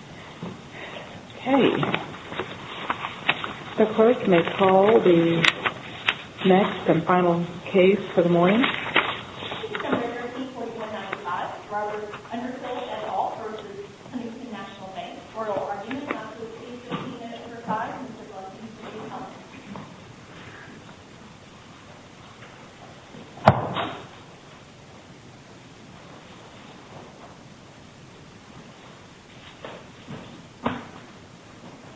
Okay, the clerk may call the next and final case for the morning. This is a measure of 3.195. Robert Underhill et al. v. Huntington National Bank. Court will argue the matter for three fifteen minutes for five. Mr. Blunt, please proceed to comment.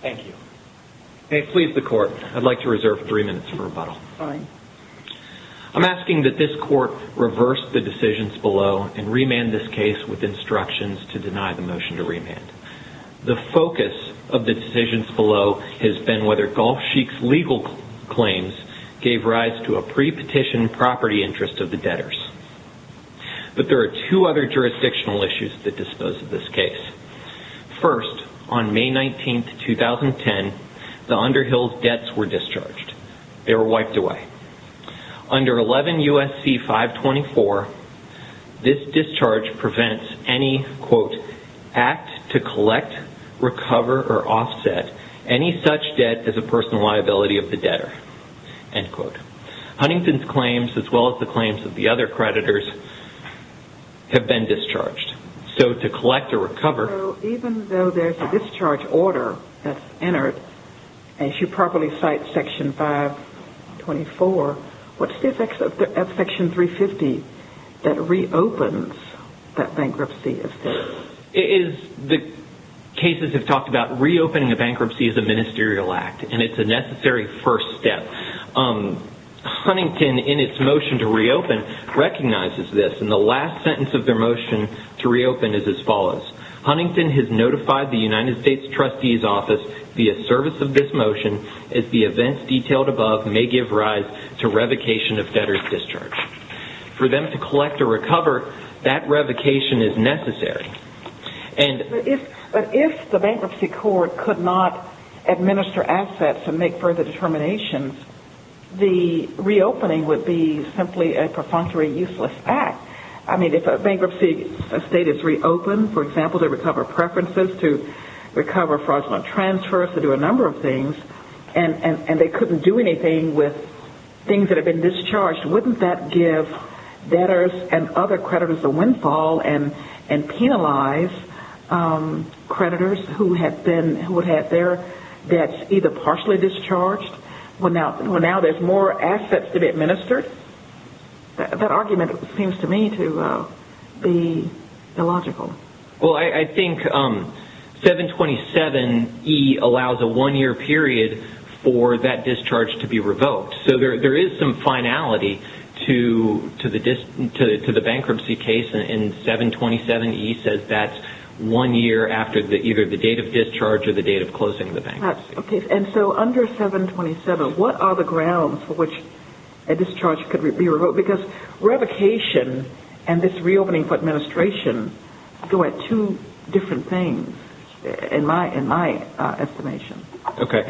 Thank you. Okay, please the court. I'd like to reserve three minutes for rebuttal. Fine. I'm asking that this court reverse the decisions below and remand this case with instructions to deny the motion to remand. The focus of the decisions below has been whether Gulf Sheik's legal claims gave rise to a pre-petition property interest of the debtors. But there are two other jurisdictional issues that dispose of this case. First, on May 19, 2010, the Underhill's debts were discharged. They were wiped away. Under 11 U.S.C. 524, this discharge prevents any, quote, act to collect, recover, or offset any such debt as a personal liability of the debtor, end quote. Huntington's claims, as well as the claims of the other creditors, have been discharged. So, to collect or recover... So, even though there's a discharge order that's entered, as you properly cite Section 524, what's the effect of Section 350 that reopens that bankruptcy of debt? The cases have talked about reopening a bankruptcy as a ministerial act, and it's a necessary first step. Huntington, in its motion to reopen, recognizes this, and the last sentence of their motion to reopen is as follows. Huntington has notified the United States Trustee's Office, via service of this motion, that the events detailed above may give rise to revocation of debtors' discharge. For them to collect or recover, that revocation is necessary. But if the bankruptcy court could not administer assets and make further determinations, the reopening would be simply a perfunctory useless act. I mean, if a bankruptcy estate is reopened, for example, to recover preferences, to recover fraudulent transfers, to do a number of things, and they couldn't do anything with things that have been discharged, wouldn't that give debtors and other creditors a windfall and penalize creditors who would have their debts either partially discharged? Well, now there's more assets to be administered? That argument seems to me to be illogical. Well, I think 727E allows a one-year period for that discharge to be revoked. So there is some finality to the bankruptcy case, and 727E says that's one year after either the date of discharge or the date of closing of the bankruptcy. And so under 727, what are the grounds for which a discharge could be revoked? Because revocation and this reopening for administration go at two different things, in my estimation. Okay.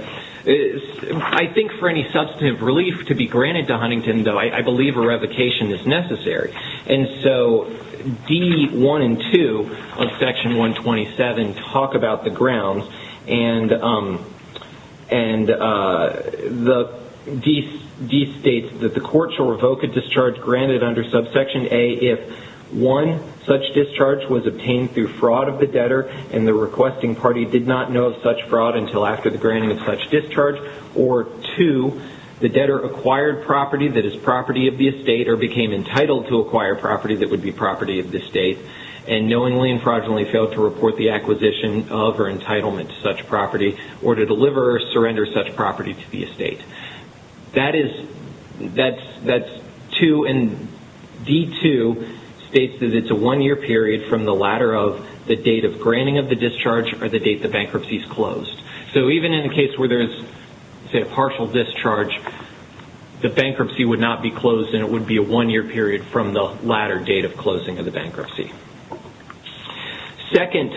I think for any substantive relief to be granted to Huntington, though, I believe a revocation is necessary. And so D1 and 2 of Section 127 talk about the grounds, and D states that the court shall revoke a discharge granted under subsection A if, one, such discharge was obtained through fraud of the debtor and the requesting party did not know of such fraud until after the granting of such discharge, or two, the debtor acquired property that is property of the estate or became entitled to acquire property that would be property of the estate and knowingly and fraudulently failed to report the acquisition of or entitlement to such property or to deliver or surrender such property to the estate. That's two, and D2 states that it's a one-year period from the latter of the date of granting of the discharge or the date the bankruptcy is closed. So even in the case where there is, say, a partial discharge, the bankruptcy would not be closed, and it would be a one-year period from the latter date of closing of the bankruptcy. Second,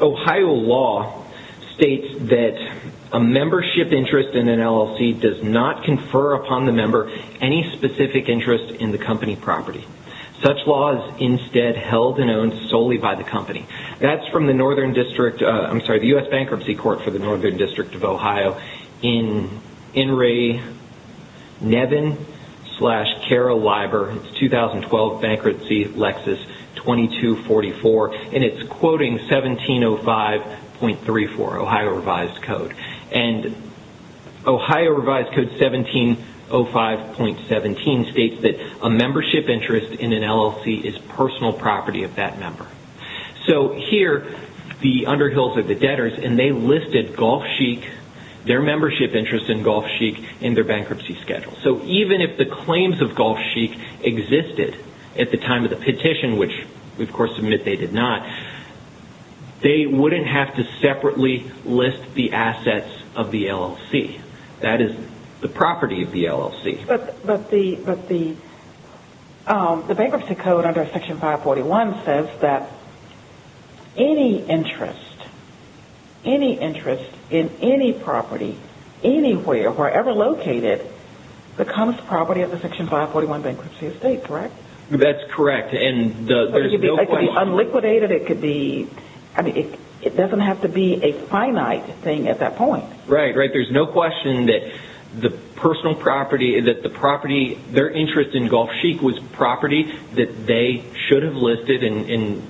Ohio law states that a membership interest in an LLC does not confer upon the member any specific interest in the company property. Such law is instead held and owned solely by the company. That's from the U.S. Bankruptcy Court for the Northern District of Ohio in N. Ray Nevin slash Kara Leiber. It's 2012 Bankruptcy Lexus 2244, and it's quoting 1705.34, Ohio revised code. And Ohio revised code 1705.17 states that a membership interest in an LLC is personal property of that member. So here, the Underhills are the debtors, and they listed their membership interest in Gulf Chic in their bankruptcy schedule. So even if the claims of Gulf Chic existed at the time of the petition, which we of course admit they did not, they wouldn't have to separately list the assets of the LLC. That is the property of the LLC. But the bankruptcy code under Section 541 says that any interest in any property, anywhere, wherever located, becomes property of the Section 541 bankruptcy estate, correct? That's correct. It could be unliquidated. It doesn't have to be a finite thing at that point. Right, right. There's no question that the personal property, that the property, their interest in Gulf Chic was property that they should have listed and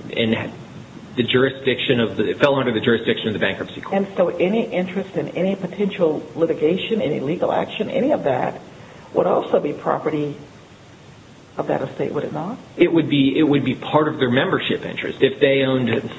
fell under the jurisdiction of the bankruptcy court. And so any interest in any potential litigation, any legal action, any of that would also be property of that estate, would it not? It would be part of their membership interest. If they owned,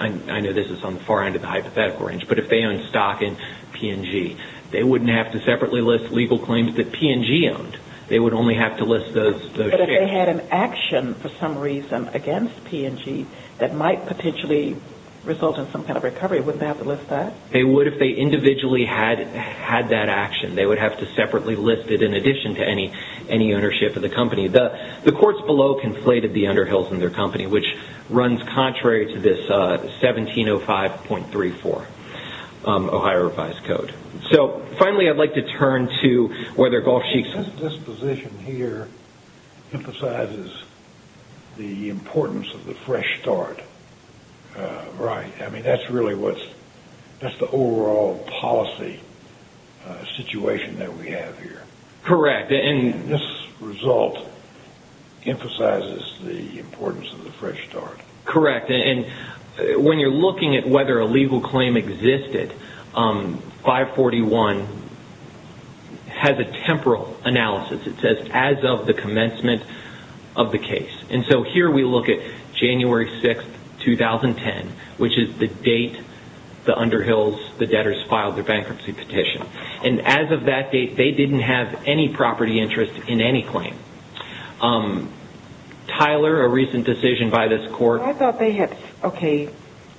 I know this is on the far end of the hypothetical range, but if they owned stock in P&G, they wouldn't have to separately list legal claims that P&G owned. They would only have to list those shares. But if they had an action for some reason against P&G that might potentially result in some kind of recovery, wouldn't they have to list that? They would if they individually had that action. They would have to separately list it in addition to any ownership of the company. The courts below conflated the underhills in their company, which runs contrary to this 1705.34 Ohio Revised Code. So finally, I'd like to turn to whether Gulf Chic's disposition here emphasizes the importance of the fresh start. Right. I mean, that's really what's, that's the overall policy situation that we have here. Correct. And this result emphasizes the importance of the fresh start. Correct. And when you're looking at whether a legal claim existed, 541 has a temporal analysis. It says as of the commencement of the case. And so here we look at January 6th, 2010, which is the date the underhills, the debtors filed their bankruptcy petition. And as of that date, they didn't have any property interest in any claim. Tyler, a recent decision by this court. I thought they had, okay,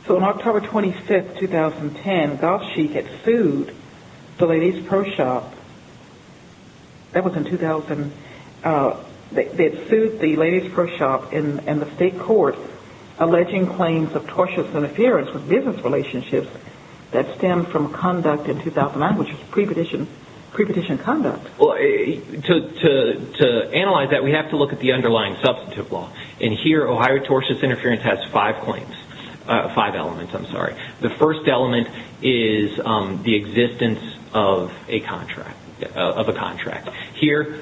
so on October 25th, 2010, Gulf Chic had sued the Ladies' Pro Shop. That was in 2000. They had sued the Ladies' Pro Shop and the state court, alleging claims of tortious interference with business relationships that stemmed from conduct in 2009, which is pre-petition conduct. To analyze that, we have to look at the underlying substantive law. And here, Ohio tortious interference has five claims, five elements, I'm sorry. The first element is the existence of a contract. Here,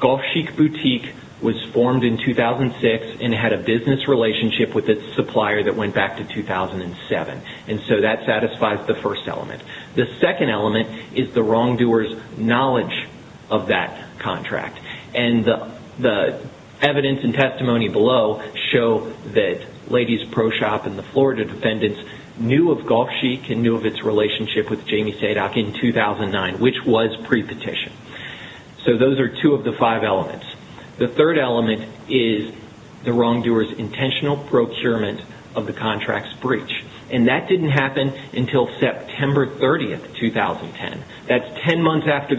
Gulf Chic Boutique was formed in 2006 and had a business relationship with its supplier that went back to 2007. And so that satisfies the first element. The second element is the wrongdoer's knowledge of that contract. And the evidence and testimony below show that Ladies' Pro Shop and the Florida defendants knew of Gulf Chic and knew of its relationship with Jamie Sadock in 2009, which was pre-petition. So those are two of the five elements. The third element is the wrongdoer's intentional procurement of the contract's breach. And that didn't happen until September 30th, 2010. That's almost ten months after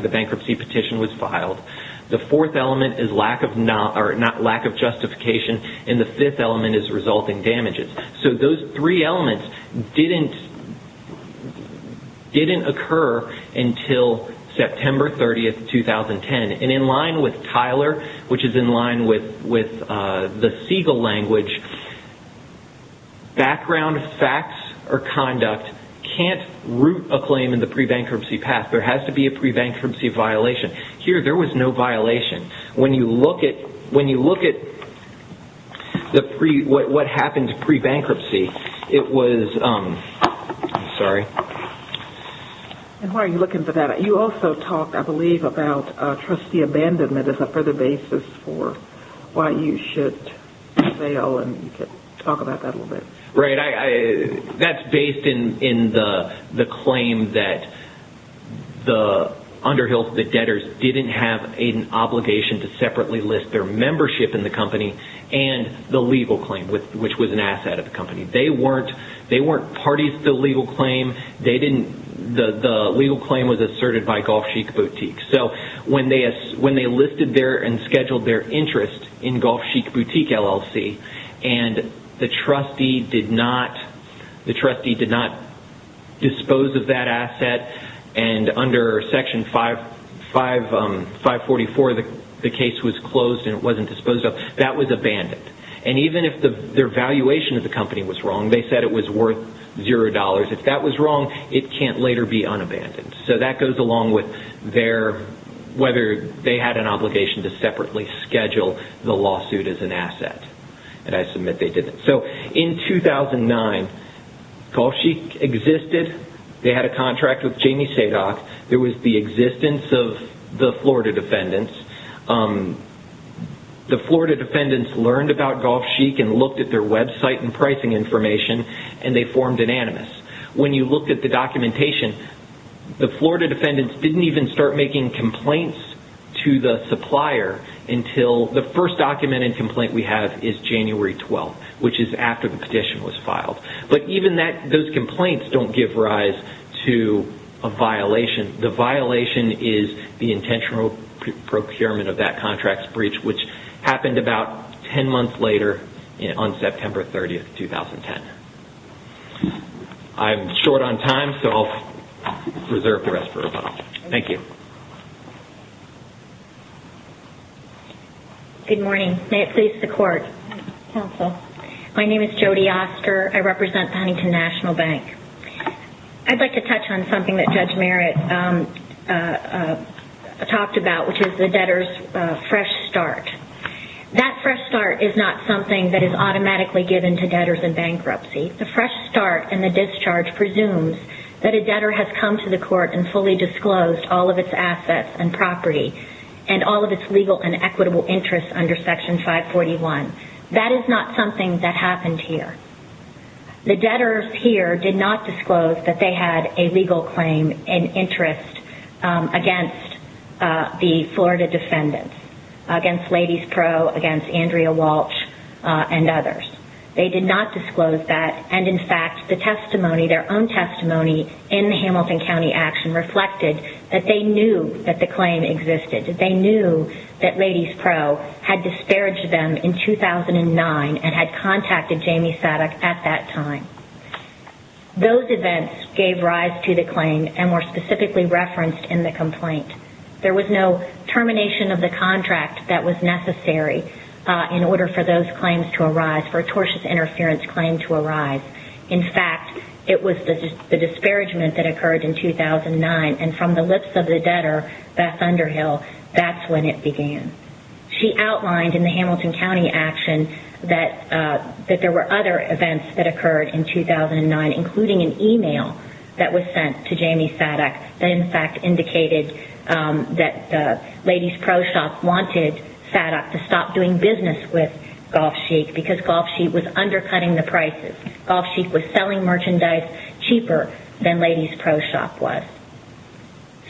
the bankruptcy petition was filed. The fourth element is lack of justification, and the fifth element is resulting damages. So those three elements didn't occur until September 30th, 2010. And in line with Tyler, which is in line with the Siegel language, background facts or conduct can't root a claim in the pre-bankruptcy path. There has to be a pre-bankruptcy violation. Here, there was no violation. When you look at what happened pre-bankruptcy, it was... I'm sorry. Why are you looking for that? You also talked, I believe, about trustee abandonment as a further basis for why you should fail. Talk about that a little bit. Right. That's based in the claim that the debtors didn't have an obligation to separately list their membership in the company and the legal claim, which was an asset of the company. They weren't parties to the legal claim. The legal claim was asserted by Golf Chic Boutique. So when they listed their and scheduled their interest in Golf Chic Boutique LLC, and the trustee did not dispose of that asset, and under Section 544, the case was closed and it wasn't disposed of, that was abandoned. And even if their valuation of the company was wrong, they said it was worth $0. If that was wrong, it can't later be unabandoned. So that goes along with whether they had an obligation to separately schedule the lawsuit as an asset. And I submit they didn't. So in 2009, Golf Chic existed. They had a contract with Jamie Sadock. There was the existence of the Florida Defendants. The Florida Defendants learned about Golf Chic and looked at their website and pricing information, and they formed Anonymous. When you look at the documentation, the Florida Defendants didn't even start making complaints to the supplier until the first documented complaint we have is January 12th, which is after the petition was filed. But even those complaints don't give rise to a violation. The violation is the intentional procurement of that contract's breach, which happened about 10 months later on September 30th, 2010. I'm short on time, so I'll reserve the rest for Robyn. Thank you. Good morning. May it please the Court. Counsel. My name is Jody Oster. I represent Huntington National Bank. I'd like to touch on something that Judge Merritt talked about, which is the debtor's fresh start. That fresh start is not something that is automatically given to debtors in bankruptcy. The fresh start in the discharge presumes that a debtor has come to the court and fully disclosed all of its assets and property and all of its legal and equitable interests under Section 541. That is not something that happened here. The debtors here did not disclose that they had a legal claim in interest against the Florida defendants, against Ladies Pro, against Andrea Walsh, and others. They did not disclose that. And, in fact, the testimony, their own testimony, in the Hamilton County action reflected that they knew that the claim existed. They knew that Ladies Pro had disparaged them in 2009 and had contacted Jamie Sadduck at that time. Those events gave rise to the claim and were specifically referenced in the complaint. There was no termination of the contract that was necessary in order for those claims to arise, for a tortious interference claim to arise. In fact, it was the disparagement that occurred in 2009. And from the lips of the debtor, Beth Underhill, that's when it began. She outlined in the Hamilton County action that there were other events that occurred in 2009, including an email that was sent to Jamie Sadduck that, in fact, indicated that the Ladies Pro shop wanted Sadduck to stop doing business with Golf Chic because Golf Chic was undercutting the prices. Golf Chic was selling merchandise cheaper than Ladies Pro shop was.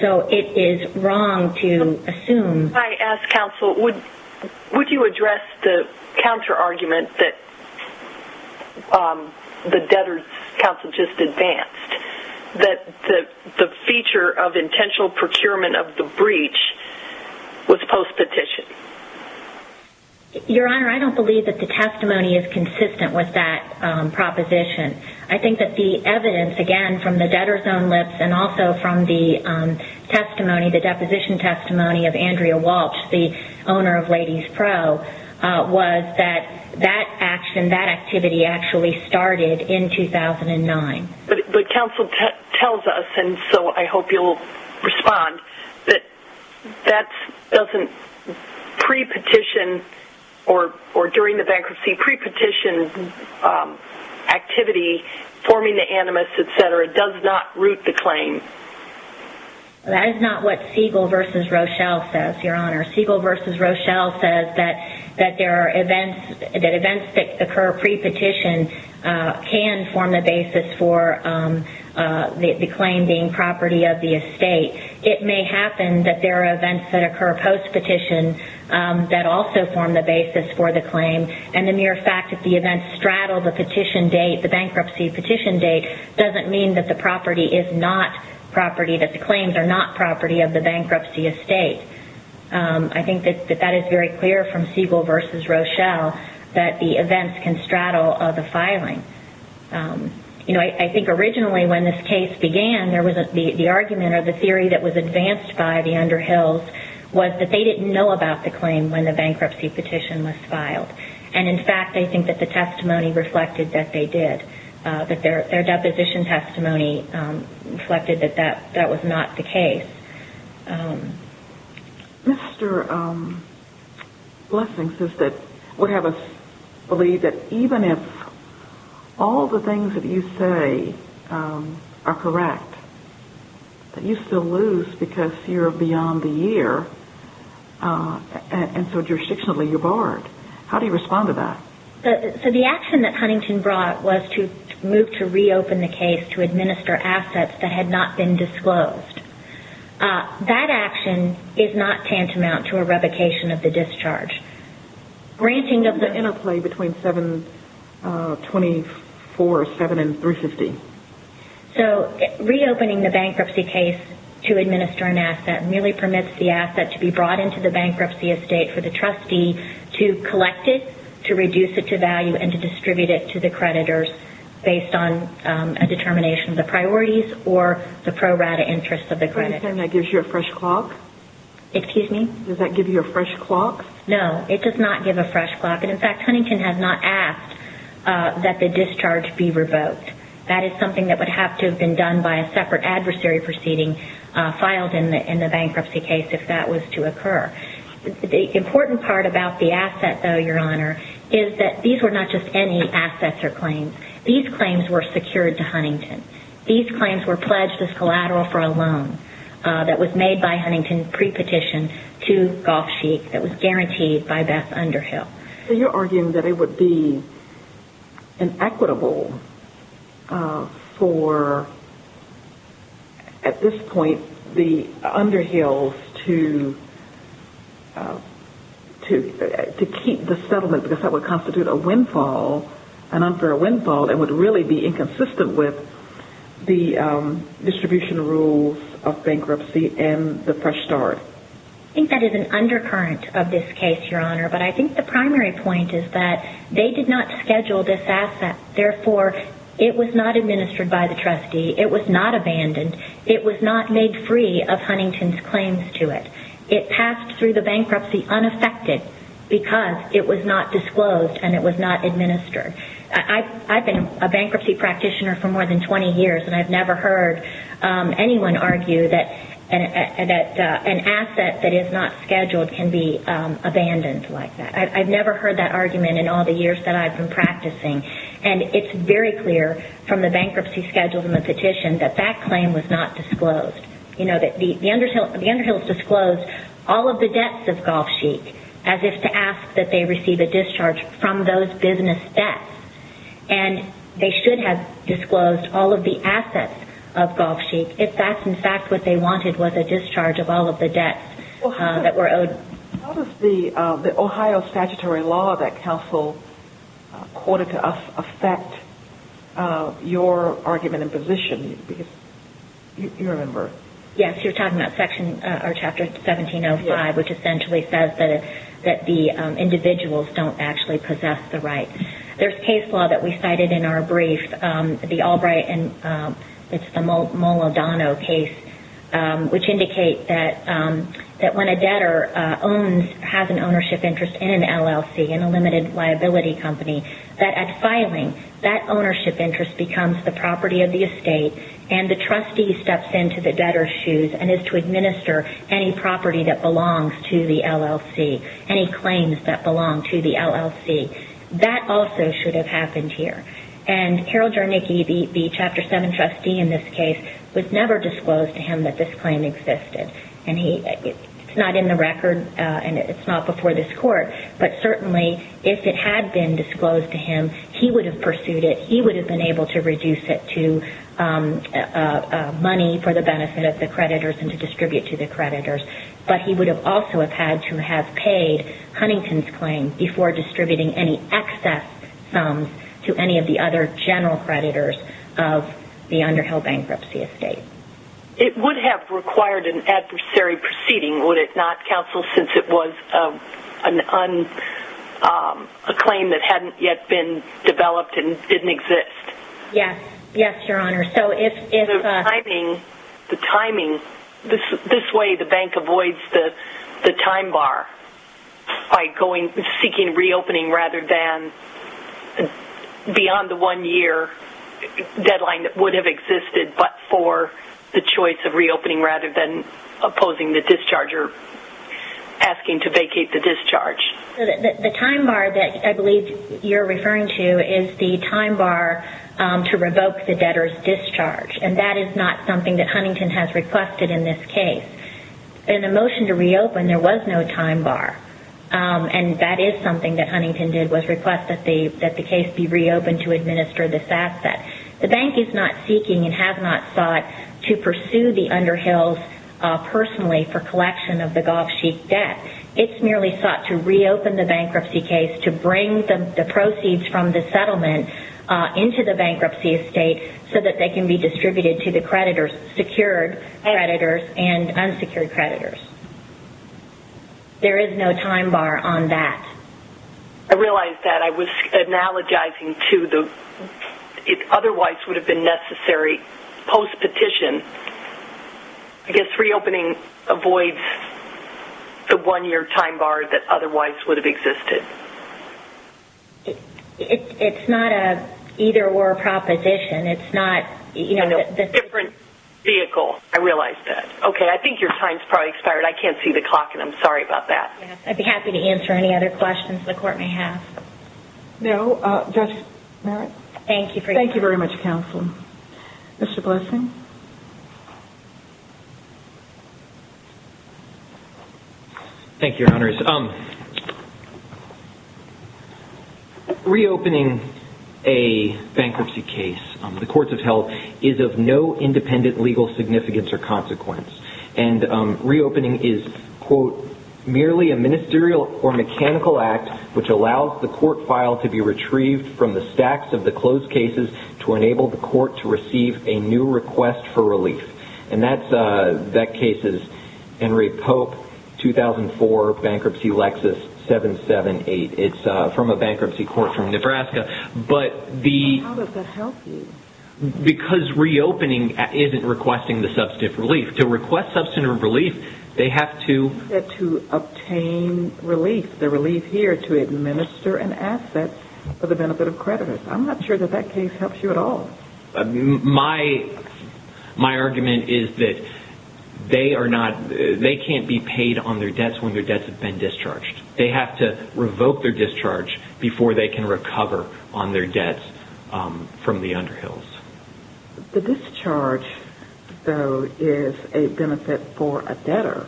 So, it is wrong to assume... If I ask counsel, would you address the counter-argument that the debtor's counsel just advanced, that the feature of intentional procurement of the breach was post-petition? Your Honor, I don't believe that the testimony is consistent with that proposition. I think that the evidence, again, from the debtor's own lips and also from the testimony, the deposition testimony of Andrea Walsh, the owner of Ladies Pro, was that that action, that activity, actually started in 2009. But counsel tells us, and so I hope you'll respond, that that doesn't pre-petition or during the bankruptcy pre-petition activity, forming the animus, et cetera, does not root the claim. That is not what Siegel v. Rochelle says, Your Honor. Siegel v. Rochelle says that there are events, that events that occur pre-petition can form the basis for the claim being property of the estate. It may happen that there are events that occur post-petition that also form the basis for the claim. And the mere fact that the events straddle the petition date, the bankruptcy petition date, doesn't mean that the property is not property, that the claims are not property of the bankruptcy estate. I think that that is very clear from Siegel v. Rochelle, that the events can straddle the filing. I think originally when this case began, the argument or the theory that was advanced by the Underhills was that they didn't know about the claim when the bankruptcy petition was filed. And in fact, I think that the testimony reflected that they did, that their deposition testimony reflected that that was not the case. Mr. Blessings would have us believe that even if all the things that you say are correct, that you still lose because you're beyond the year, and so jurisdictionally you're barred. How do you respond to that? The action that Huntington brought was to move to reopen the case to administer assets that had not been disclosed. That action is not tantamount to a revocation of the discharge. Isn't there interplay between 724, 7, and 350? Reopening the bankruptcy case to administer an asset merely permits the asset to be brought into the bankruptcy estate for the trustee to collect it, to reduce it to value, and to distribute it to the creditors based on a determination of the priorities or the pro rata interest of the creditors. Does that give you a fresh clock? No, it does not give a fresh clock. And in fact, Huntington has not asked that the discharge be revoked. That is something that would have to have been done by a separate adversary proceeding filed in the bankruptcy case if that was to occur. The important part about the asset, though, Your Honor, is that these were not just any assets or claims. These claims were secured to Huntington. These claims were pledged as collateral for a loan that was made by Huntington pre-petition to Golf Chic that was guaranteed by Beth Underhill. So you're arguing that it would be inequitable for, at this point, the Underhills to keep the settlement because that would constitute a windfall, an unfair windfall that would really be inconsistent with the distribution rules of bankruptcy and the fresh start. I think that is an undercurrent of this case, Your Honor. But I think the primary point is that they did not schedule this asset. Therefore, it was not administered by the trustee. It was not abandoned. It was not made free of Huntington's claims to it. It passed through the bankruptcy unaffected because it was not disclosed and it was not administered. I've been a bankruptcy practitioner for more than 20 years, and I've never heard anyone argue that an asset that is not scheduled can be abandoned like that. I've never heard that argument in all the years that I've been practicing. And it's very clear from the bankruptcy schedule and the petition that that claim was not disclosed. The Underhills disclosed all of the debts of Golf Chic as if to ask that they receive a discharge from those business debts. And they should have disclosed all of the assets of Golf Chic if that's in fact what they wanted was a discharge of all of the debts that were owed. How does the Ohio statutory law that counsel quoted to us affect your argument and position? Yes, you're talking about Chapter 1705, which essentially says that the individuals don't actually possess the right. There's case law that we cited in our brief, the Albright and Molodano case, which indicate that when a debtor has an ownership interest in an LLC, in a limited liability company, that at filing, that ownership interest becomes the property of the estate and the trustee steps into the debtor's shoes and is to administer any property that belongs to the LLC, any claims that belong to the LLC. That also should have happened here. And Harold Jernicki, the Chapter 7 trustee in this case, was never disclosed to him that this claim existed. And it's not in the record and it's not before this court, but certainly if it had been disclosed to him, he would have pursued it, he would have been able to reduce it to money for the benefit of the creditors and to distribute to the creditors. But he would also have had to have paid Huntington's claim before distributing any excess sums to any of the other general creditors of the Underhill Bankruptcy Estate. It would have required an adversary proceeding, would it not, Counsel, since it was a claim that hadn't yet been developed and didn't exist? Yes, Your Honor. The timing, this way the bank avoids the time bar by seeking reopening rather than beyond the one year deadline that would have existed but for the choice of reopening rather than opposing the discharger asking to vacate the discharge. The time bar that I believe you're referring to is the time bar to revoke the debtor's discharge and that is not something that Huntington has requested in this case. In the motion to reopen, there was no time bar and that is something that Huntington did, was request that the case be reopened to administer this asset. The bank is not seeking and has not sought to pursue the Underhills personally for collection of the Gulf Sheik debt. It's merely sought to reopen the bankruptcy case to bring the proceeds from the settlement into the bankruptcy estate so that they can be distributed to the creditors, secured creditors and unsecured creditors. There is no time bar on that. I realize that. I was analogizing to the otherwise would have been necessary post-petition. I guess reopening avoids the one-year time bar that otherwise would have existed. It's not an either-or proposition. It's not, you know, the different vehicle. I realize that. Okay. I think your time's probably expired. I can't see the clock and I'm sorry about that. I'd be happy to answer any other questions the court may have. No. Judge Merritt. Thank you. Thank you very much, Counsel. Mr. Blessing. Thank you, Your Honors. Reopening a bankruptcy case, the courts have held, is of no independent legal significance or consequence. And reopening is, quote, merely a ministerial or mechanical act which allows the court file to be retrieved from the stacks of the closed cases to enable the court to receive a new request for relief. And that case is Henry Pope, 2004, Bankruptcy Lexus 778. It's from a bankruptcy court from Nebraska. How does that help you? Because reopening isn't requesting the substantive relief. To request substantive relief, they have to- They have to obtain relief, the relief here, to administer an asset for the benefit of creditors. I'm not sure that that case helps you at all. My argument is that they are not- they can't be paid on their debts when their debts have been discharged. They have to revoke their discharge before they can recover on their debts from the underhills. The discharge, though, is a benefit for a debtor.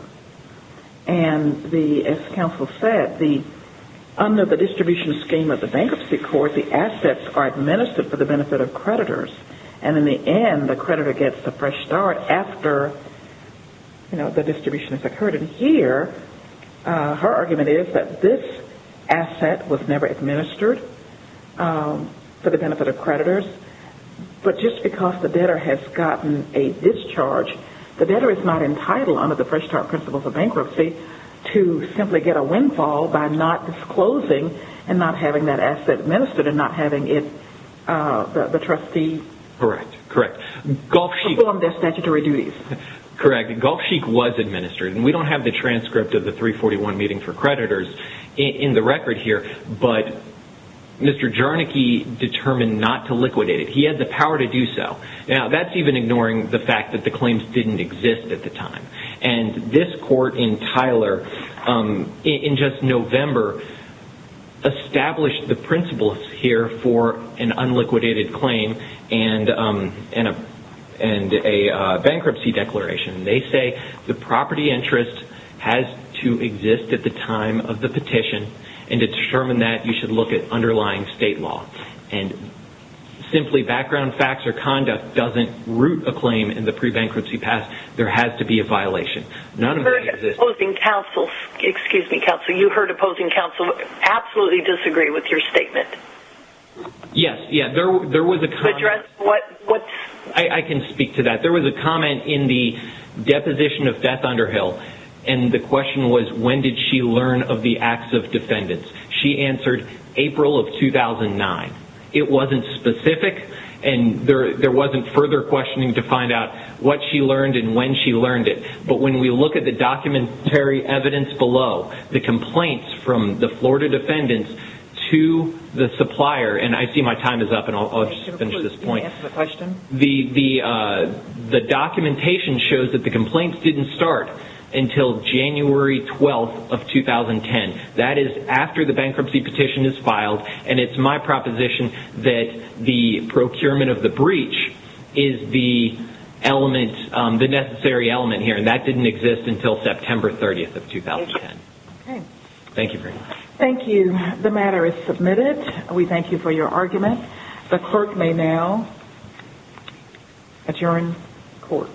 And as Counsel said, under the distribution scheme of the bankruptcy court, the assets are administered for the benefit of creditors. And in the end, the creditor gets the fresh start after the distribution has occurred. And here, her argument is that this asset was never administered for the benefit of creditors. But just because the debtor has gotten a discharge, the debtor is not entitled under the fresh start principles of bankruptcy to simply get a windfall by not disclosing and not having that asset administered and not having the trustee perform their statutory duties. Correct. Golf Chic was administered. And we don't have the transcript of the 341 meeting for creditors in the record here. But Mr. Jarnicke determined not to liquidate it. He had the power to do so. Now, that's even ignoring the fact that the claims didn't exist at the time. And this court in Tyler, in just November, established the principles here for an unliquidated claim and a bankruptcy declaration. They say the property interest has to exist at the time of the petition and to determine that, you should look at underlying state law. And simply background facts or conduct doesn't root a claim in the pre-bankruptcy path. There has to be a violation. You heard opposing counsel absolutely disagree with your statement. Yes. I can speak to that. There was a comment in the deposition of Beth Underhill. And the question was, when did she learn of the acts of defendants? She answered April of 2009. It wasn't specific. And there wasn't further questioning to find out what she learned and when she learned it. But when we look at the documentary evidence below, the complaints from the Florida defendants to the supplier, and I see my time is up and I'll just finish this point. The documentation shows that the complaints didn't start until January 12th of 2010. That is after the bankruptcy petition is filed. And it's my proposition that the procurement of the breach is the necessary element here. And that didn't exist until September 30th of 2010. Okay. Thank you very much. Thank you. The matter is submitted. We thank you for your argument. The clerk may now adjourn court.